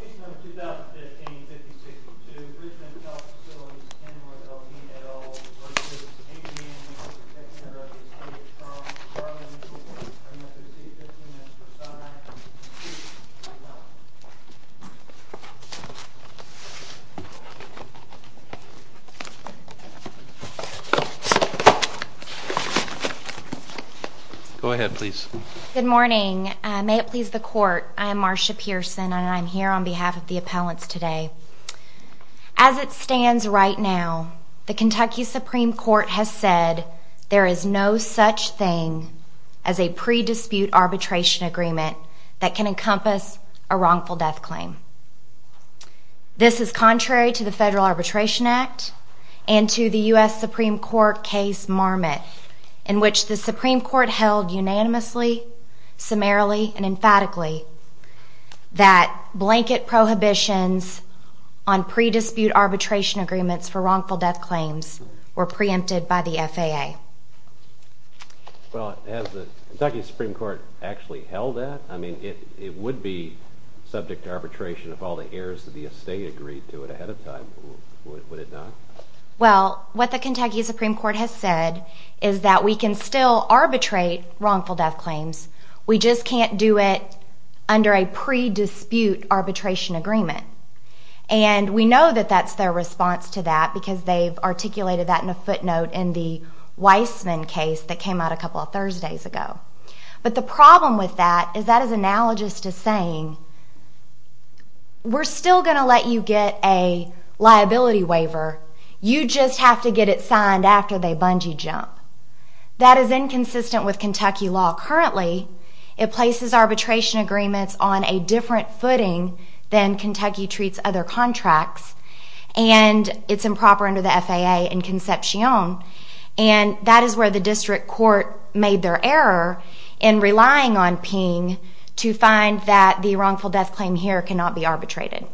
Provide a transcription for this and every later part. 15 minutes per side. Go ahead, please. Good morning. May it please the court, I am Marsha Pearson and I'm here on behalf of the appellants today. As it stands right now, the Kentucky Supreme Court has said there is no such thing as a pre-dispute arbitration agreement that can encompass a wrongful death claim. This is contrary to the Federal Arbitration Act and to the U.S. Supreme Court case Marmot in which the Supreme Court held unanimously, summarily, and emphatically that blanket prohibitions on pre-dispute arbitration agreements for wrongful death claims were preempted by the FAA. Well, has the Kentucky Supreme Court actually held that? I mean, it would be subject to arbitration if all the heirs of the estate agreed to it ahead of time, would it not? Well, what the Kentucky Supreme Court has said is that we can still arbitrate wrongful death claims, we just can't do it under a pre-dispute arbitration agreement. And we know that that's their response to that because they've articulated that in a footnote in the Weissman case that came out a couple of Thursdays ago. But the problem with that is that is analogous to saying, we're still going to let you get a liability waiver, you just have to get it signed after they bungee jump. That is inconsistent with Kentucky law currently. It places arbitration agreements on a different footing than Kentucky treats other contracts and it's improper under the FAA and Concepcion. And that is where the district court made their error in relying on Ping to find that the wrongful death claim here cannot be arbitrated.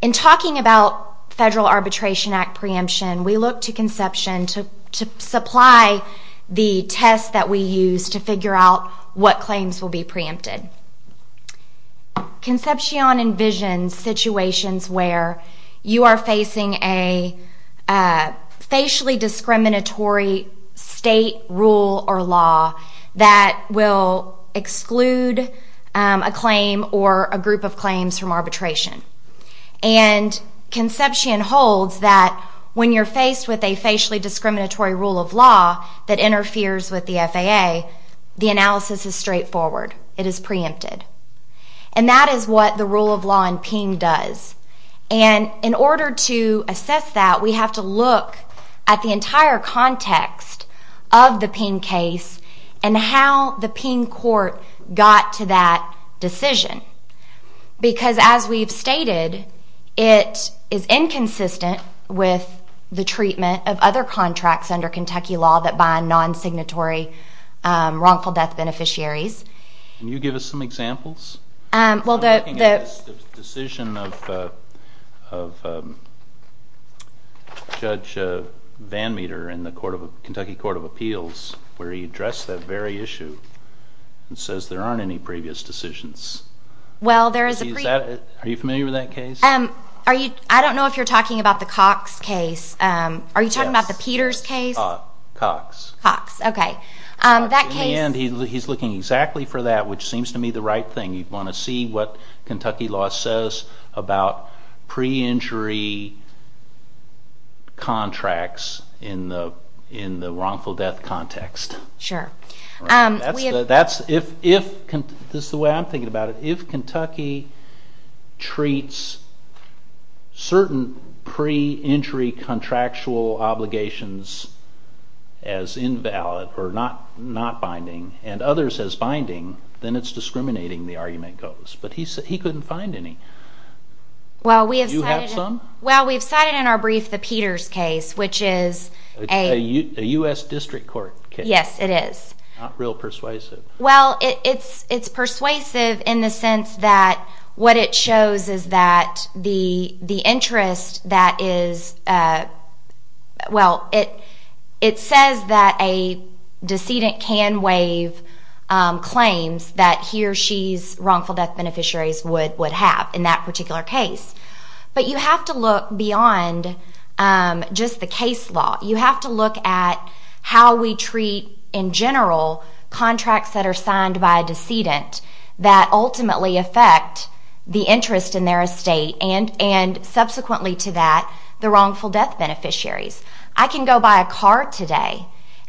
In talking about federal arbitration act preemption, we look to Concepcion to supply the test that we use to figure out what claims will be preempted. Concepcion envisions situations where you are facing a facially discriminatory state rule or law that will exclude a claim or a group of claims from arbitration. And Concepcion holds that when you're faced with a facially discriminatory rule of law that interferes with the FAA, the analysis is straightforward. It is preempted. And that is what the rule of law in Ping does. And in order to assess that, we have to look at the entire context of the Ping case and how the Ping court got to that decision. Because as we've stated, it is inconsistent with the treatment of other contracts under Kentucky law that bind non-signatory wrongful death beneficiaries. Can you give us some examples? Well, the decision of Judge Van Meter in the Kentucky Court of Appeals, where he addressed that very issue and says there aren't any previous decisions. Well, there is a previous. Are you familiar with that case? I don't know if you're talking about the Cox case. Are you talking about the Peters case? Cox. Cox. OK. That case. And he's looking exactly for that, which seems to me the right thing. You'd want to see what Kentucky law says about pre-injury contracts in the wrongful death context. Sure. That's the way I'm thinking about it. treats certain pre-injury contractual obligations as invalid or not binding and others as binding, then it's discriminating, the argument goes. But he couldn't find any. Well we have cited in our brief the Peters case, which is a US District Court case. Yes, it is. Not real persuasive. Well, it's persuasive in the sense that what it shows is that the interest that is, well, it says that a decedent can waive claims that he or she's wrongful death beneficiaries would have in that particular case. But you have to look beyond just the case law. You have to look at how we treat, in general, contracts that are signed by a decedent that ultimately affect the interest in their estate and, subsequently to that, the wrongful death beneficiaries. I can go buy a car today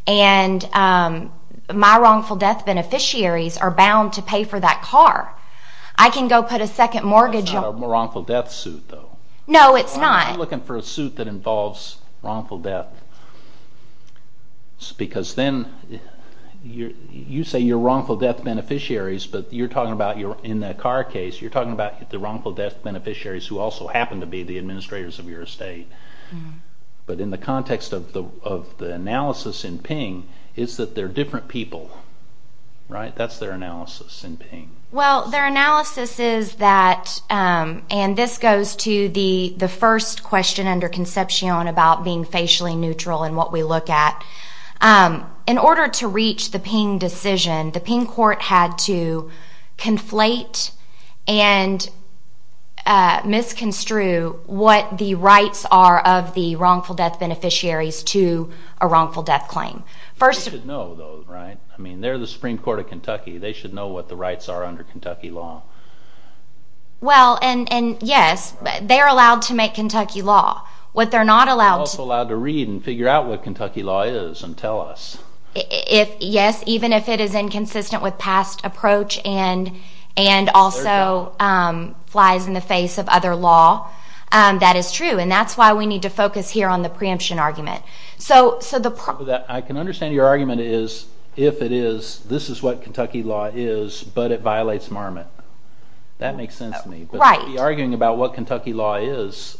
and my wrongful death beneficiaries are bound to pay for that car. I can go put a second mortgage on it. That's not a wrongful death suit, though. No, it's not. I'm looking for a suit that involves wrongful death because then you say you're wrongful death beneficiaries, but you're talking about, in the car case, you're talking about the wrongful death beneficiaries who also happen to be the administrators of your estate. But in the context of the analysis in Ping, it's that they're different people, right? That's their analysis in Ping. Well, their analysis is that, and this goes to the first question under Concepcion about being facially neutral and what we look at. In order to reach the Ping decision, the Ping court had to conflate and misconstrue what the rights are of the wrongful death beneficiaries to a wrongful death claim. They should know, though, right? I mean, they're the Supreme Court of Kentucky. They should know what the rights are under Kentucky law. Well, and yes, they're allowed to make Kentucky law. What they're not allowed to- They're also allowed to read and figure out what Kentucky law is and tell us. Yes, even if it is inconsistent with past approach and also flies in the face of other law, that is true, and that's why we need to focus here on the preemption argument. I can understand your argument is, if it is, this is what Kentucky law is, but it violates Marmot. That makes sense to me. Right. But to be arguing about what Kentucky law is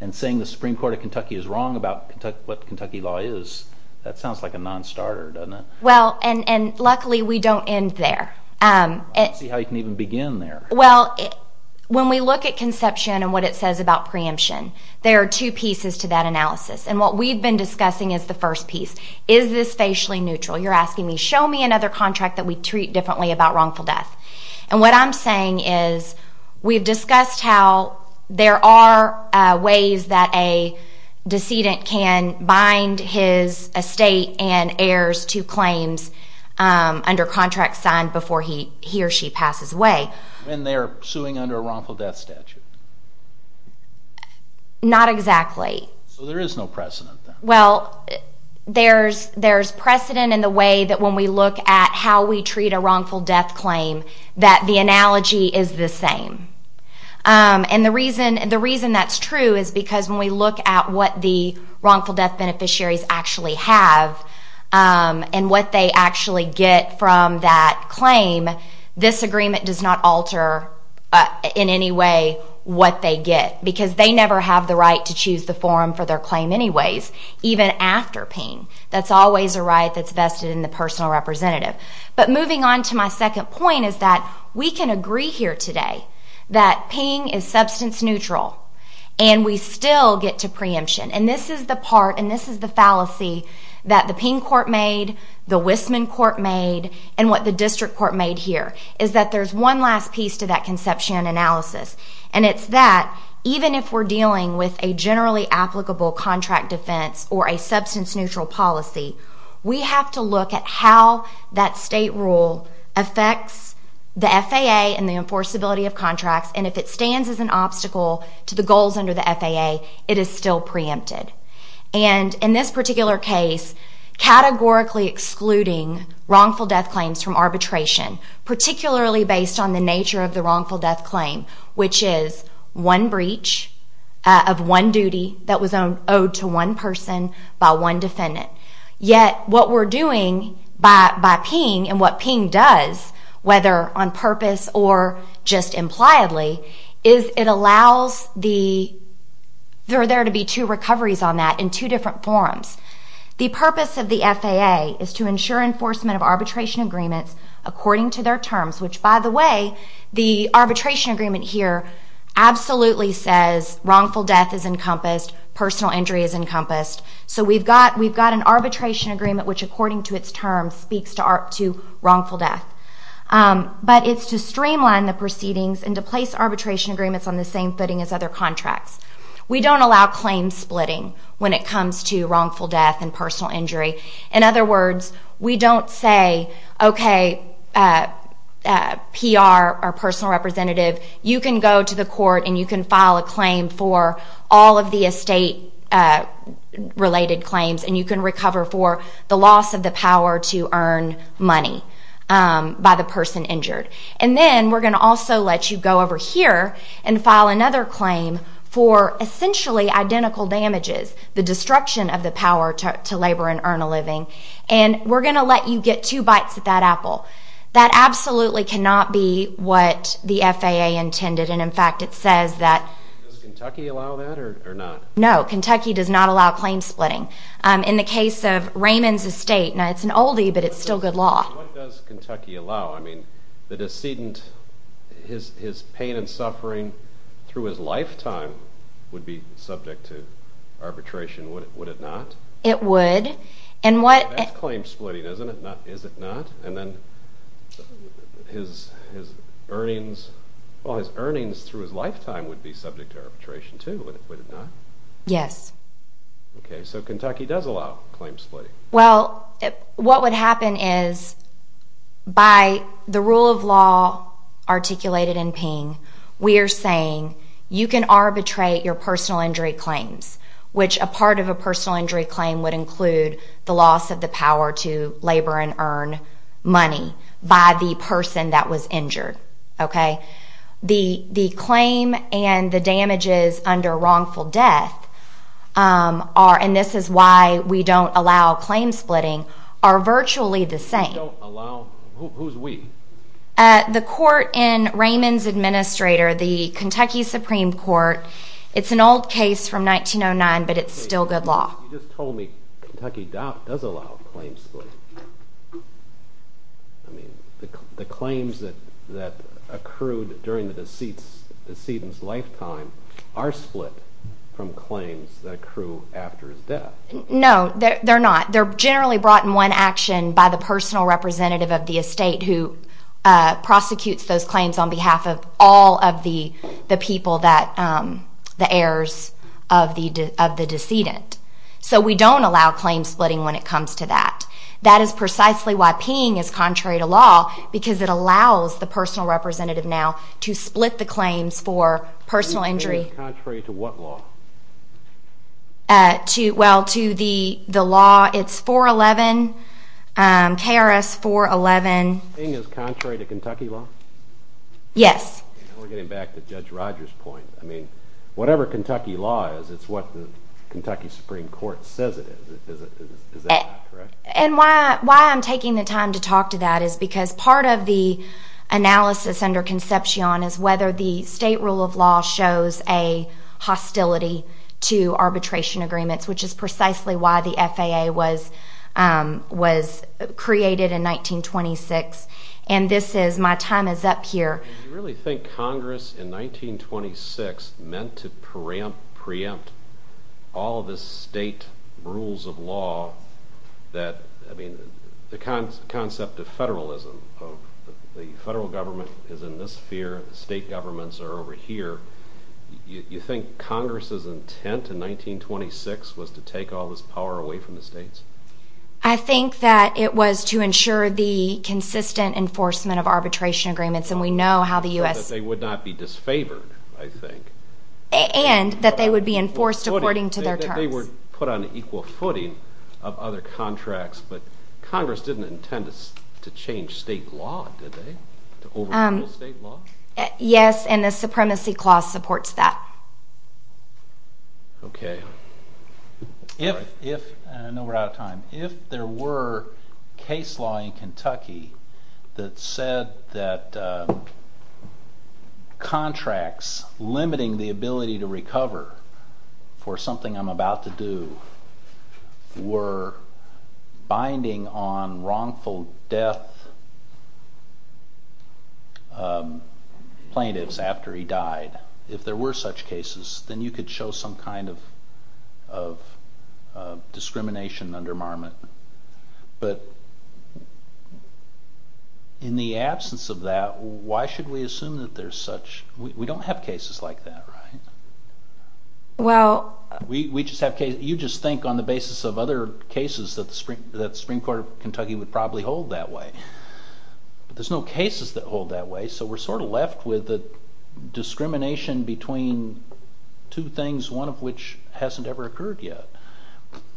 and saying the Supreme Court of Kentucky is wrong about what Kentucky law is, that sounds like a non-starter, doesn't it? Well, and luckily, we don't end there. Let's see how you can even begin there. Well, when we look at Conception and what it says about preemption, there are two pieces to that analysis, and what we've been discussing is the first piece. Is this facially neutral? You're asking me, show me another contract that we treat differently about wrongful death. And what I'm saying is, we've discussed how there are ways that a decedent can bind his estate and heirs to claims under contracts signed before he or she passes away. And they're suing under a wrongful death statute? Not exactly. So there is no precedent then? Well, there's precedent in the way that when we look at how we treat a wrongful death claim, that the analogy is the same. And the reason that's true is because when we look at what the wrongful death beneficiaries actually have and what they actually get from that claim, this agreement does not alter in any way what they get, because they never have the right to choose the forum for their claim anyways, even after PING. That's always a right that's vested in the personal representative. But moving on to my second point is that we can agree here today that PING is substance neutral and we still get to preemption. And this is the part, and this is the fallacy that the PING court made, the Wissman court made, and what the district court made here, is that there's one last piece to that conception and analysis, and it's that even if we're dealing with a generally applicable contract defense or a substance neutral policy, we have to look at how that state rule affects the FAA and the enforceability of contracts, and if it stands as an obstacle to the goals under the FAA, it is still preempted. And in this particular case, categorically excluding wrongful death claims from arbitration, particularly based on the nature of the wrongful death claim, which is one breach of one duty that was owed to one person by one defendant. Yet what we're doing by PING and what PING does, whether on purpose or just impliedly, is it allows the—there are there to be two recoveries on that in two different forms. The purpose of the FAA is to ensure enforcement of arbitration agreements according to their terms, which, by the way, the arbitration agreement here absolutely says wrongful death is encompassed, personal injury is encompassed, so we've got an arbitration agreement which according to its terms speaks to wrongful death. But it's to streamline the proceedings and to place arbitration agreements on the same footing as other contracts. We don't allow claim splitting when it comes to wrongful death and personal injury. In other words, we don't say, okay, PR or personal representative, you can go to the court and you can file a claim for all of the estate-related claims and you can recover for the loss of the power to earn money by the person injured. And then we're going to also let you go over here and file another claim for essentially identical damages, the destruction of the power to labor and earn a living, and we're going to let you get two bites of that apple. That absolutely cannot be what the FAA intended, and in fact it says that— Does Kentucky allow that or not? No, Kentucky does not allow claim splitting. In the case of Raymond's estate, now it's an oldie, but it's still good law. What does Kentucky allow? I mean, the decedent, his pain and suffering through his lifetime would be subject to arbitration, would it not? It would. And what— That's claim splitting, isn't it? Is it not? And then his earnings, well, his earnings through his lifetime would be subject to arbitration too, would it not? Yes. Okay, so Kentucky does allow claim splitting. Well, what would happen is, by the rule of law articulated in Ping, we are saying you can arbitrate your personal injury claims, which a part of a personal injury claim would include the loss of the power to labor and earn money by the person that was injured, okay? The claim and the damages under wrongful death are—and this is why we don't allow claim splitting—are virtually the same. You don't allow—who's we? The court in Raymond's administrator, the Kentucky Supreme Court, it's an old case from 1909, but it's still good law. You just told me Kentucky does allow claim splitting. I mean, the claims that accrued during the decedent's lifetime are split from claims that accrue after his death. No, they're not. They're generally brought in one action by the personal representative of the estate who prosecutes those claims on behalf of all of the people that—the heirs of the decedent. So we don't allow claim splitting when it comes to that. That is precisely why Ping is contrary to law, because it allows the personal representative now to split the claims for personal injury. Ping is contrary to what law? Well, to the law, it's 411, KRS 411. Ping is contrary to Kentucky law? Yes. We're getting back to Judge Rogers' point. Whatever Kentucky law is, it's what the Kentucky Supreme Court says it is. Is that correct? And why I'm taking the time to talk to that is because part of the analysis under Concepcion is whether the state rule of law shows a hostility to arbitration agreements, which is precisely why the FAA was created in 1926. And this is—my time is up here. Do you really think Congress in 1926 meant to preempt all of the state rules of law that—I mean, the concept of federalism, of the federal government is in this sphere, the state governments are over here. You think Congress's intent in 1926 was to take all this power away from the states? I think that it was to ensure the consistent enforcement of arbitration agreements, and we know how the U.S. So that they would not be disfavored, I think. And that they would be enforced according to their terms. They were put on equal footing of other contracts, but Congress didn't intend to change state law, did they? To overrule state law? Yes, and the Supremacy Clause supports that. Okay. All right. I know we're out of time. If there were case law in Kentucky that said that contracts limiting the ability to recover for something I'm about to do were binding on wrongful death plaintiffs after he died, if there were such cases, then you could show some kind of discrimination under Marmot. But in the absence of that, why should we assume that there's such—we don't have cases like that, right? Well— We just have cases—you just think on the basis of other cases that the Supreme Court of Kentucky would probably hold that way, but there's no cases that hold that way, so we're sort of left with the discrimination between two things, one of which hasn't ever occurred yet.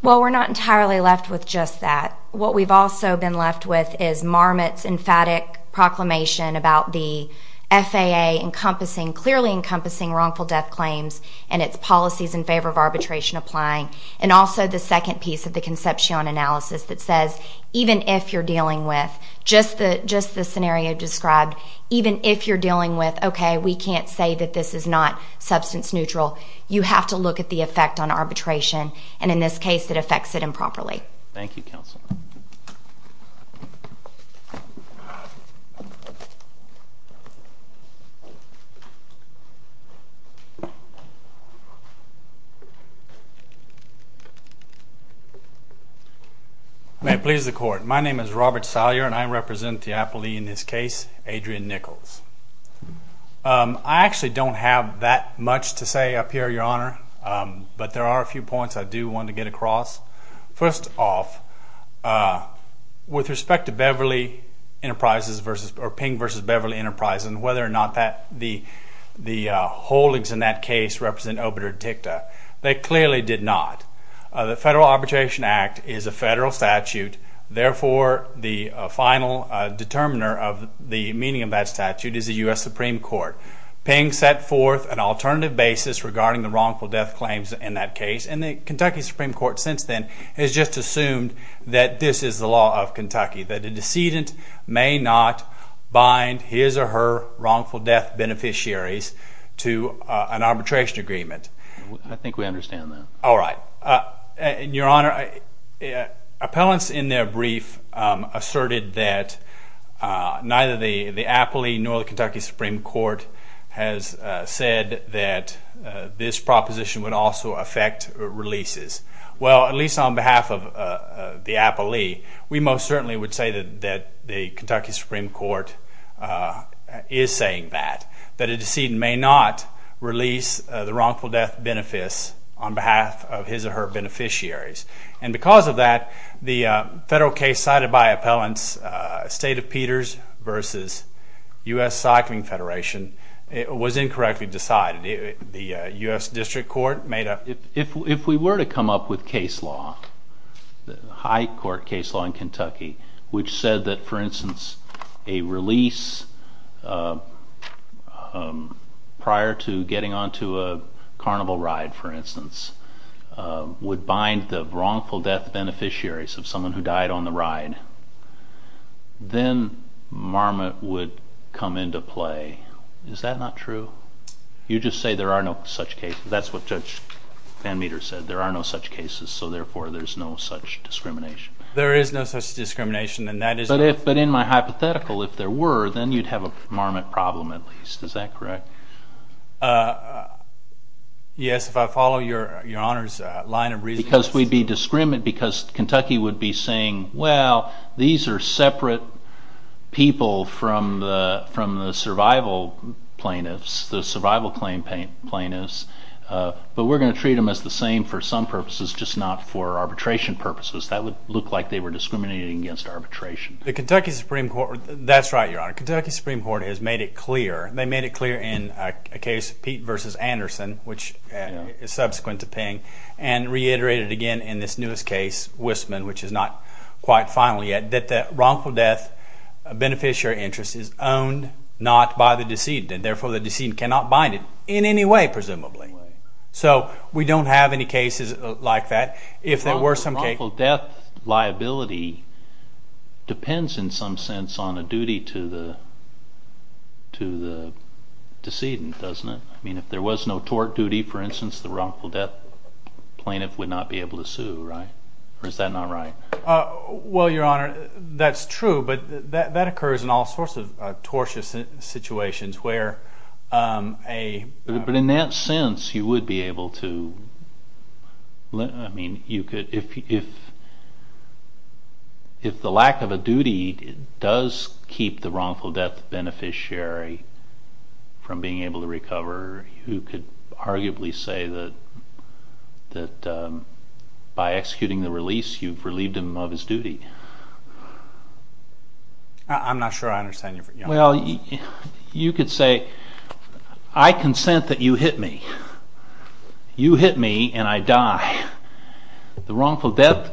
Well, we're not entirely left with just that. What we've also been left with is Marmot's emphatic proclamation about the FAA clearly encompassing wrongful death claims and its policies in favor of arbitration applying, and also the second piece of the Concepcion analysis that says even if you're dealing with—just the scenario described—even if you're dealing with, okay, we can't say that this is not substance neutral, you have to look at the effect on arbitration, and in this case, it affects it improperly. Thank you, counsel. May it please the Court. My name is Robert Salyer, and I represent the appellee in this case, Adrian Nichols. I actually don't have that much to say up here, Your Honor, but there are a few points I do want to get across. First off, with respect to Beverly Enterprises versus—or Ping versus Beverly Enterprises and whether or not the holdings in that case represent obitur dicta, they clearly did not. The Federal Arbitration Act is a federal statute, therefore the final determiner of the meaning of that statute is the U.S. Supreme Court. Ping set forth an alternative basis regarding the wrongful death claims in that case, and the Kentucky Supreme Court since then has just assumed that this is the law of Kentucky, that a decedent may not bind his or her wrongful death beneficiaries to an arbitration agreement. I think we understand that. All right. And, Your Honor, appellants in their brief asserted that neither the appellee nor the Kentucky Supreme Court has said that this proposition would also affect releases. Well, at least on behalf of the appellee, we most certainly would say that the Kentucky Supreme Court is saying that, that a decedent may not release the wrongful death benefits on behalf of his or her beneficiaries. And because of that, the federal case cited by appellants, State of Peters versus U.S. Cycling Federation, was incorrectly decided. The U.S. District Court made a... If we were to come up with case law, high court case law in Kentucky, which said that, for instance, a release prior to getting onto a carnival ride, for instance, would bind the wrongful death beneficiaries of someone who died on the ride, then marmot would come into play. Is that not true? You just say there are no such cases. That's what Judge Van Meter said. There are no such cases, so therefore, there's no such discrimination. There is no such discrimination, and that is... But in my hypothetical, if there were, then you'd have a marmot problem at least. Is that correct? Yes. If I follow your Honor's line of reasoning... Because we'd be discriminant, because Kentucky would be saying, well, these are separate people from the survival plaintiffs, the survival claim plaintiffs, but we're going to treat them as the same for some purposes, just not for arbitration purposes. That would look like they were discriminating against arbitration. That's right, Your Honor. Kentucky Supreme Court has made it clear. They made it clear in a case, Pete v. Anderson, which is subsequent to Ping, and reiterated again in this newest case, Wissman, which is not quite final yet, that the wrongful death beneficiary interest is owned not by the decedent, and therefore the decedent cannot bind it in any way, presumably. So we don't have any cases like that. The wrongful death liability depends in some sense on a duty to the decedent, doesn't it? I mean, if there was no tort duty, for instance, the wrongful death plaintiff would not be able to sue, right? Or is that not right? Well, Your Honor, that's true, but that occurs in all sorts of tortious situations where a... You could... If the lack of a duty does keep the wrongful death beneficiary from being able to recover, you could arguably say that by executing the release, you've relieved him of his duty. I'm not sure I understand you, Your Honor. Well, you could say, I consent that you hit me. You hit me, and I die. The wrongful death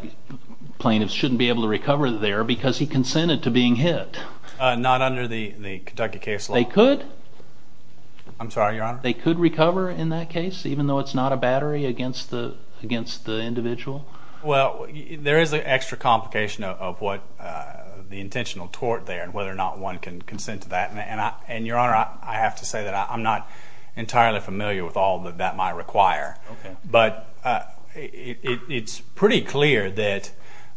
plaintiff shouldn't be able to recover there because he consented to being hit. Not under the Kentucky case law? They could. I'm sorry, Your Honor? They could recover in that case, even though it's not a battery against the individual? Well, there is an extra complication of what the intentional tort there, and whether or not one can consent to that. Your Honor, I have to say that I'm not entirely familiar with all that that might require. But it's pretty clear that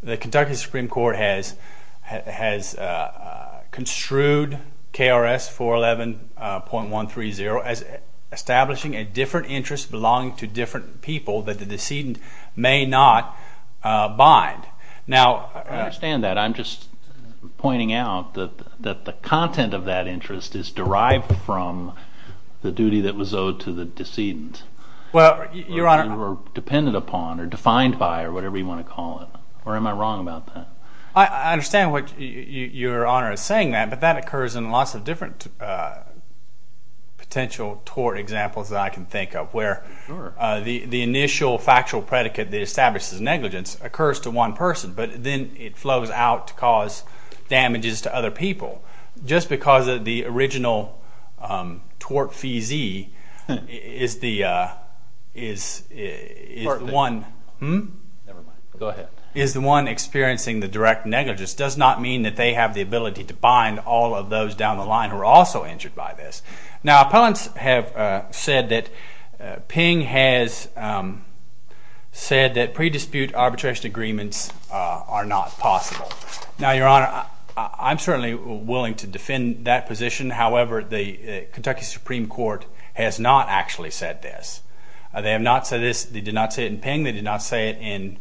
the Kentucky Supreme Court has construed KRS 411.130 as establishing a different interest belonging to different people that the decedent may not bind. Now, I understand that. I'm just pointing out that the content of that interest is derived from the duty that was owed to the decedent. Well, Your Honor? Or depended upon, or defined by, or whatever you want to call it. Or am I wrong about that? I understand what Your Honor is saying, but that occurs in lots of different potential tort examples that I can think of, where the initial factual predicate that establishes negligence occurs to one person, but then it flows out to cause damages to other people. Just because the original tort feesee is the one experiencing the direct negligence does not mean that they have the ability to bind all of those down the line who are also injured by this. Now, appellants have said that Ping has said that pre-dispute arbitration agreements are not possible. Now, Your Honor, I'm certainly willing to defend that position. However, the Kentucky Supreme Court has not actually said this. They have not said this. They did not say it in Ping. They did not say it in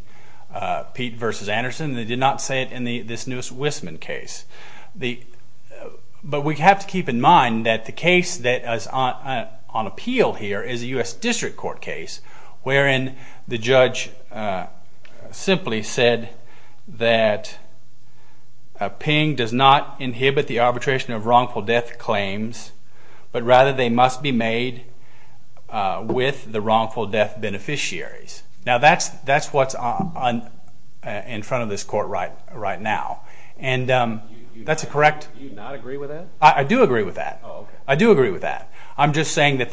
Pete versus Anderson. They did not say it in this newest Wisman case. But we have to keep in mind that the case that is on appeal here is a U.S. District Court case wherein the judge simply said that Ping does not inhibit the arbitration of wrongful death claims, but rather they must be made with the wrongful death beneficiaries. Now, that's what's in front of this court right now. And that's a correct. Do you not agree with that? I do agree with that. I do agree with that. I'm just saying that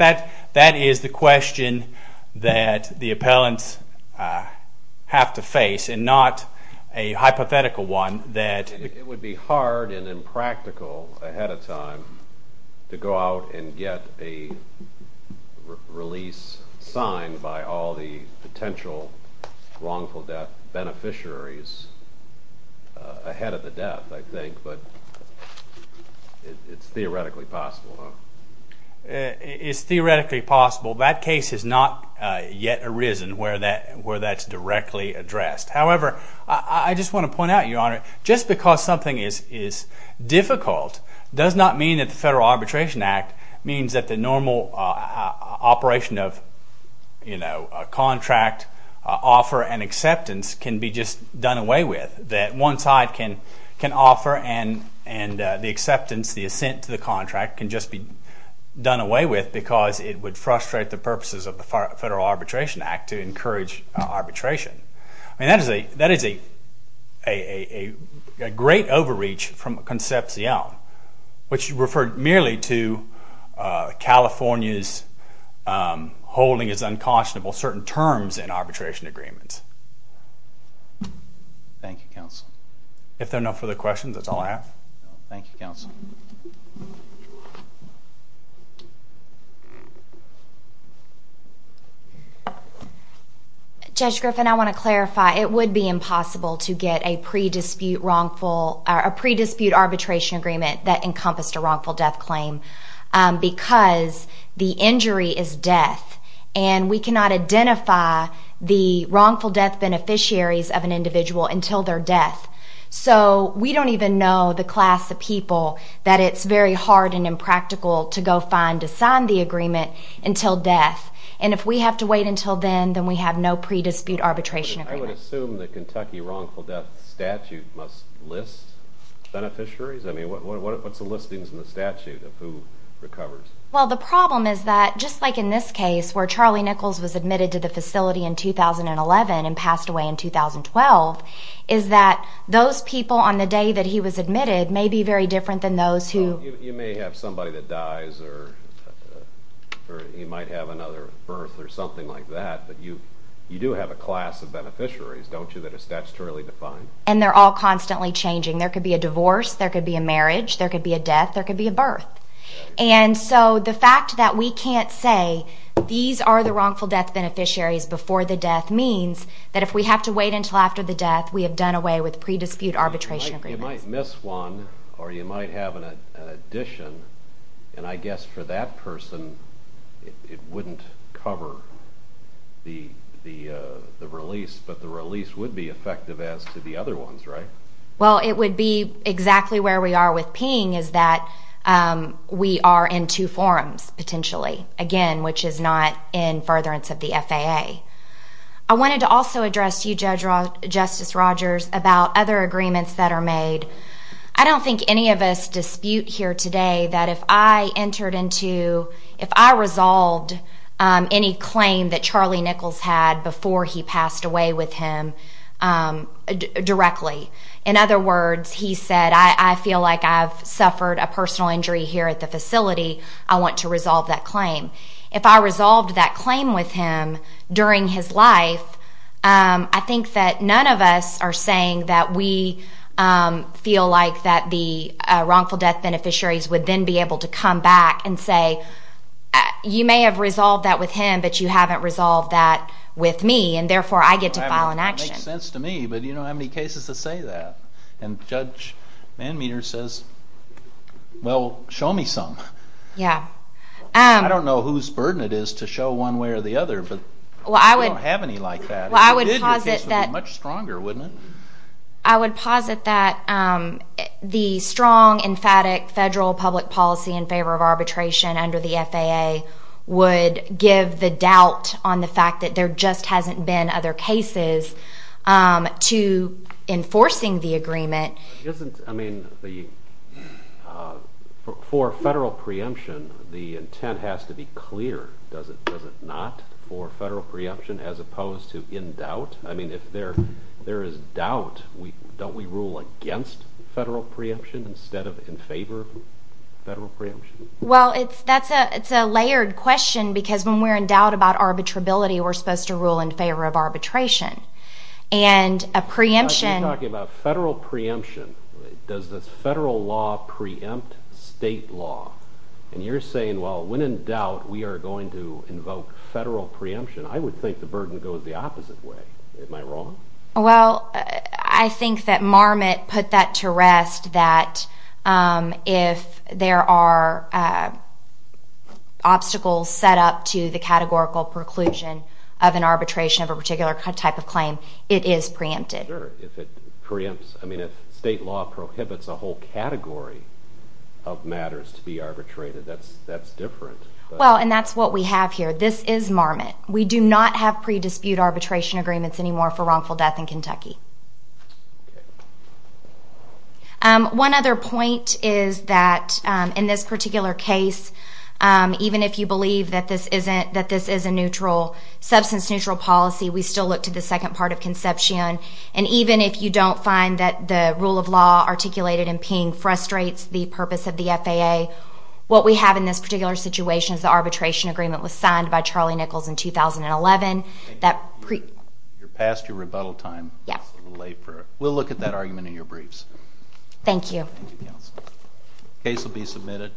that is the question that the appellants have to face and not a hypothetical one that. It would be hard and impractical ahead of time to go out and get a release signed by all the potential wrongful death beneficiaries ahead of the death, I think. But it's theoretically possible, huh? It's theoretically possible. That case has not yet arisen where that's directly addressed. However, I just want to point out, Your Honor, just because something is difficult does not mean that the Federal Arbitration Act means that the normal operation of a contract offer and acceptance can be just done away with, that one side can offer and the acceptance, the assent to the contract can just be done away with because it would frustrate the purposes of the Federal Arbitration Act to encourage arbitration. I mean, that is a great overreach from Concepcion, which referred merely to California's holding as unconscionable certain terms in arbitration agreements. Thank you, Counsel. If there are no further questions, that's all I have. Thank you, Counsel. Judge Griffin, I want to clarify, it would be impossible to get a pre-dispute wrongful, a pre-dispute arbitration agreement that encompassed a wrongful death claim because the injury is death and we cannot identify the wrongful death beneficiaries of an individual until their death. So, we don't even know the class of people that it's very hard and impractical to go find to sign the agreement until death and if we have to wait until then, then we have no pre-dispute arbitration agreement. I would assume the Kentucky wrongful death statute must list beneficiaries. I mean, what's the listings in the statute of who recovers? Well, the problem is that just like in this case where Charlie Nichols was admitted to the facility in 2011 and passed away in 2012 is that those people on the day that he was admitted may be very different than those who... You may have somebody that dies or he might have another birth or something like that but you do have a class of beneficiaries, don't you, that is statutorily defined. And they're all constantly changing. There could be a divorce, there could be a marriage, there could be a death, there could be a birth. And so, the fact that we can't say these are the wrongful death beneficiaries before the death means that if we have to wait until after the death, we have done away with pre-dispute arbitration agreements. You might miss one or you might have an addition and I guess for that person it wouldn't cover the release but the release would be effective as to the other ones, right? Well, it would be exactly where we are with Ping is that we are in two forums potentially, again, which is not in furtherance of the FAA. I wanted to also address you, Justice Rogers, about other agreements that are made. I don't think any of us dispute here today that if I entered into... If I resolved any claim that Charlie Nichols had before he passed away with him directly, in other words, he said, I feel like I've suffered a personal injury here at the facility. I want to resolve that claim. If I resolved that claim with him during his life, I think that none of us are saying that we feel like that the wrongful death beneficiaries would then be able to come back and say, you may have resolved that with him but you haven't resolved that with me and therefore I get to file an action. That makes sense to me but you don't have any cases to say that. And Judge Manmeater says, well, show me some. Yeah. I don't know whose burden it is to show one way or the other but we don't have any like that. Well, I would posit that... It would be much stronger, wouldn't it? I would posit that the strong, emphatic federal public policy in favor of arbitration under the FAA would give the doubt on the fact that there just hasn't been other cases to enforcing the agreement. Isn't, I mean, for federal preemption, the intent has to be clear. Does it not for federal preemption as opposed to in doubt? I mean, if there is doubt, don't we rule against federal preemption instead of in favor of federal preemption? Well, it's a layered question because when we're in doubt about arbitrability, we're supposed to rule in favor of arbitration. And a preemption... You're talking about federal preemption. Does this federal law preempt state law? And you're saying, well, when in doubt, we are going to invoke federal preemption. I would think the burden goes the opposite way. Am I wrong? Well, I think that Marmot put that to rest that if there are obstacles set up to the categorical preclusion of an arbitration of a particular type of claim, it is preempted. Sure, if it preempts... I mean, if state law prohibits a whole category of matters to be arbitrated, that's different. Well, and that's what we have here. This is Marmot. We do not have pre-dispute arbitration agreements anymore for wrongful death in Kentucky. One other point is that in this particular case, even if you believe that this is a neutral, substance-neutral policy, we still look to the second part of conception. And even if you don't find that the rule of law articulated in Ping frustrates the purpose of the FAA, what we have in this particular situation is the arbitration agreement was signed by Charlie Nichols in 2011 that... You're past your rebuttal time. Yeah. It's a little late for it. We'll look at that argument in your briefs. Thank you. Thank you, counsel. Case will be submitted.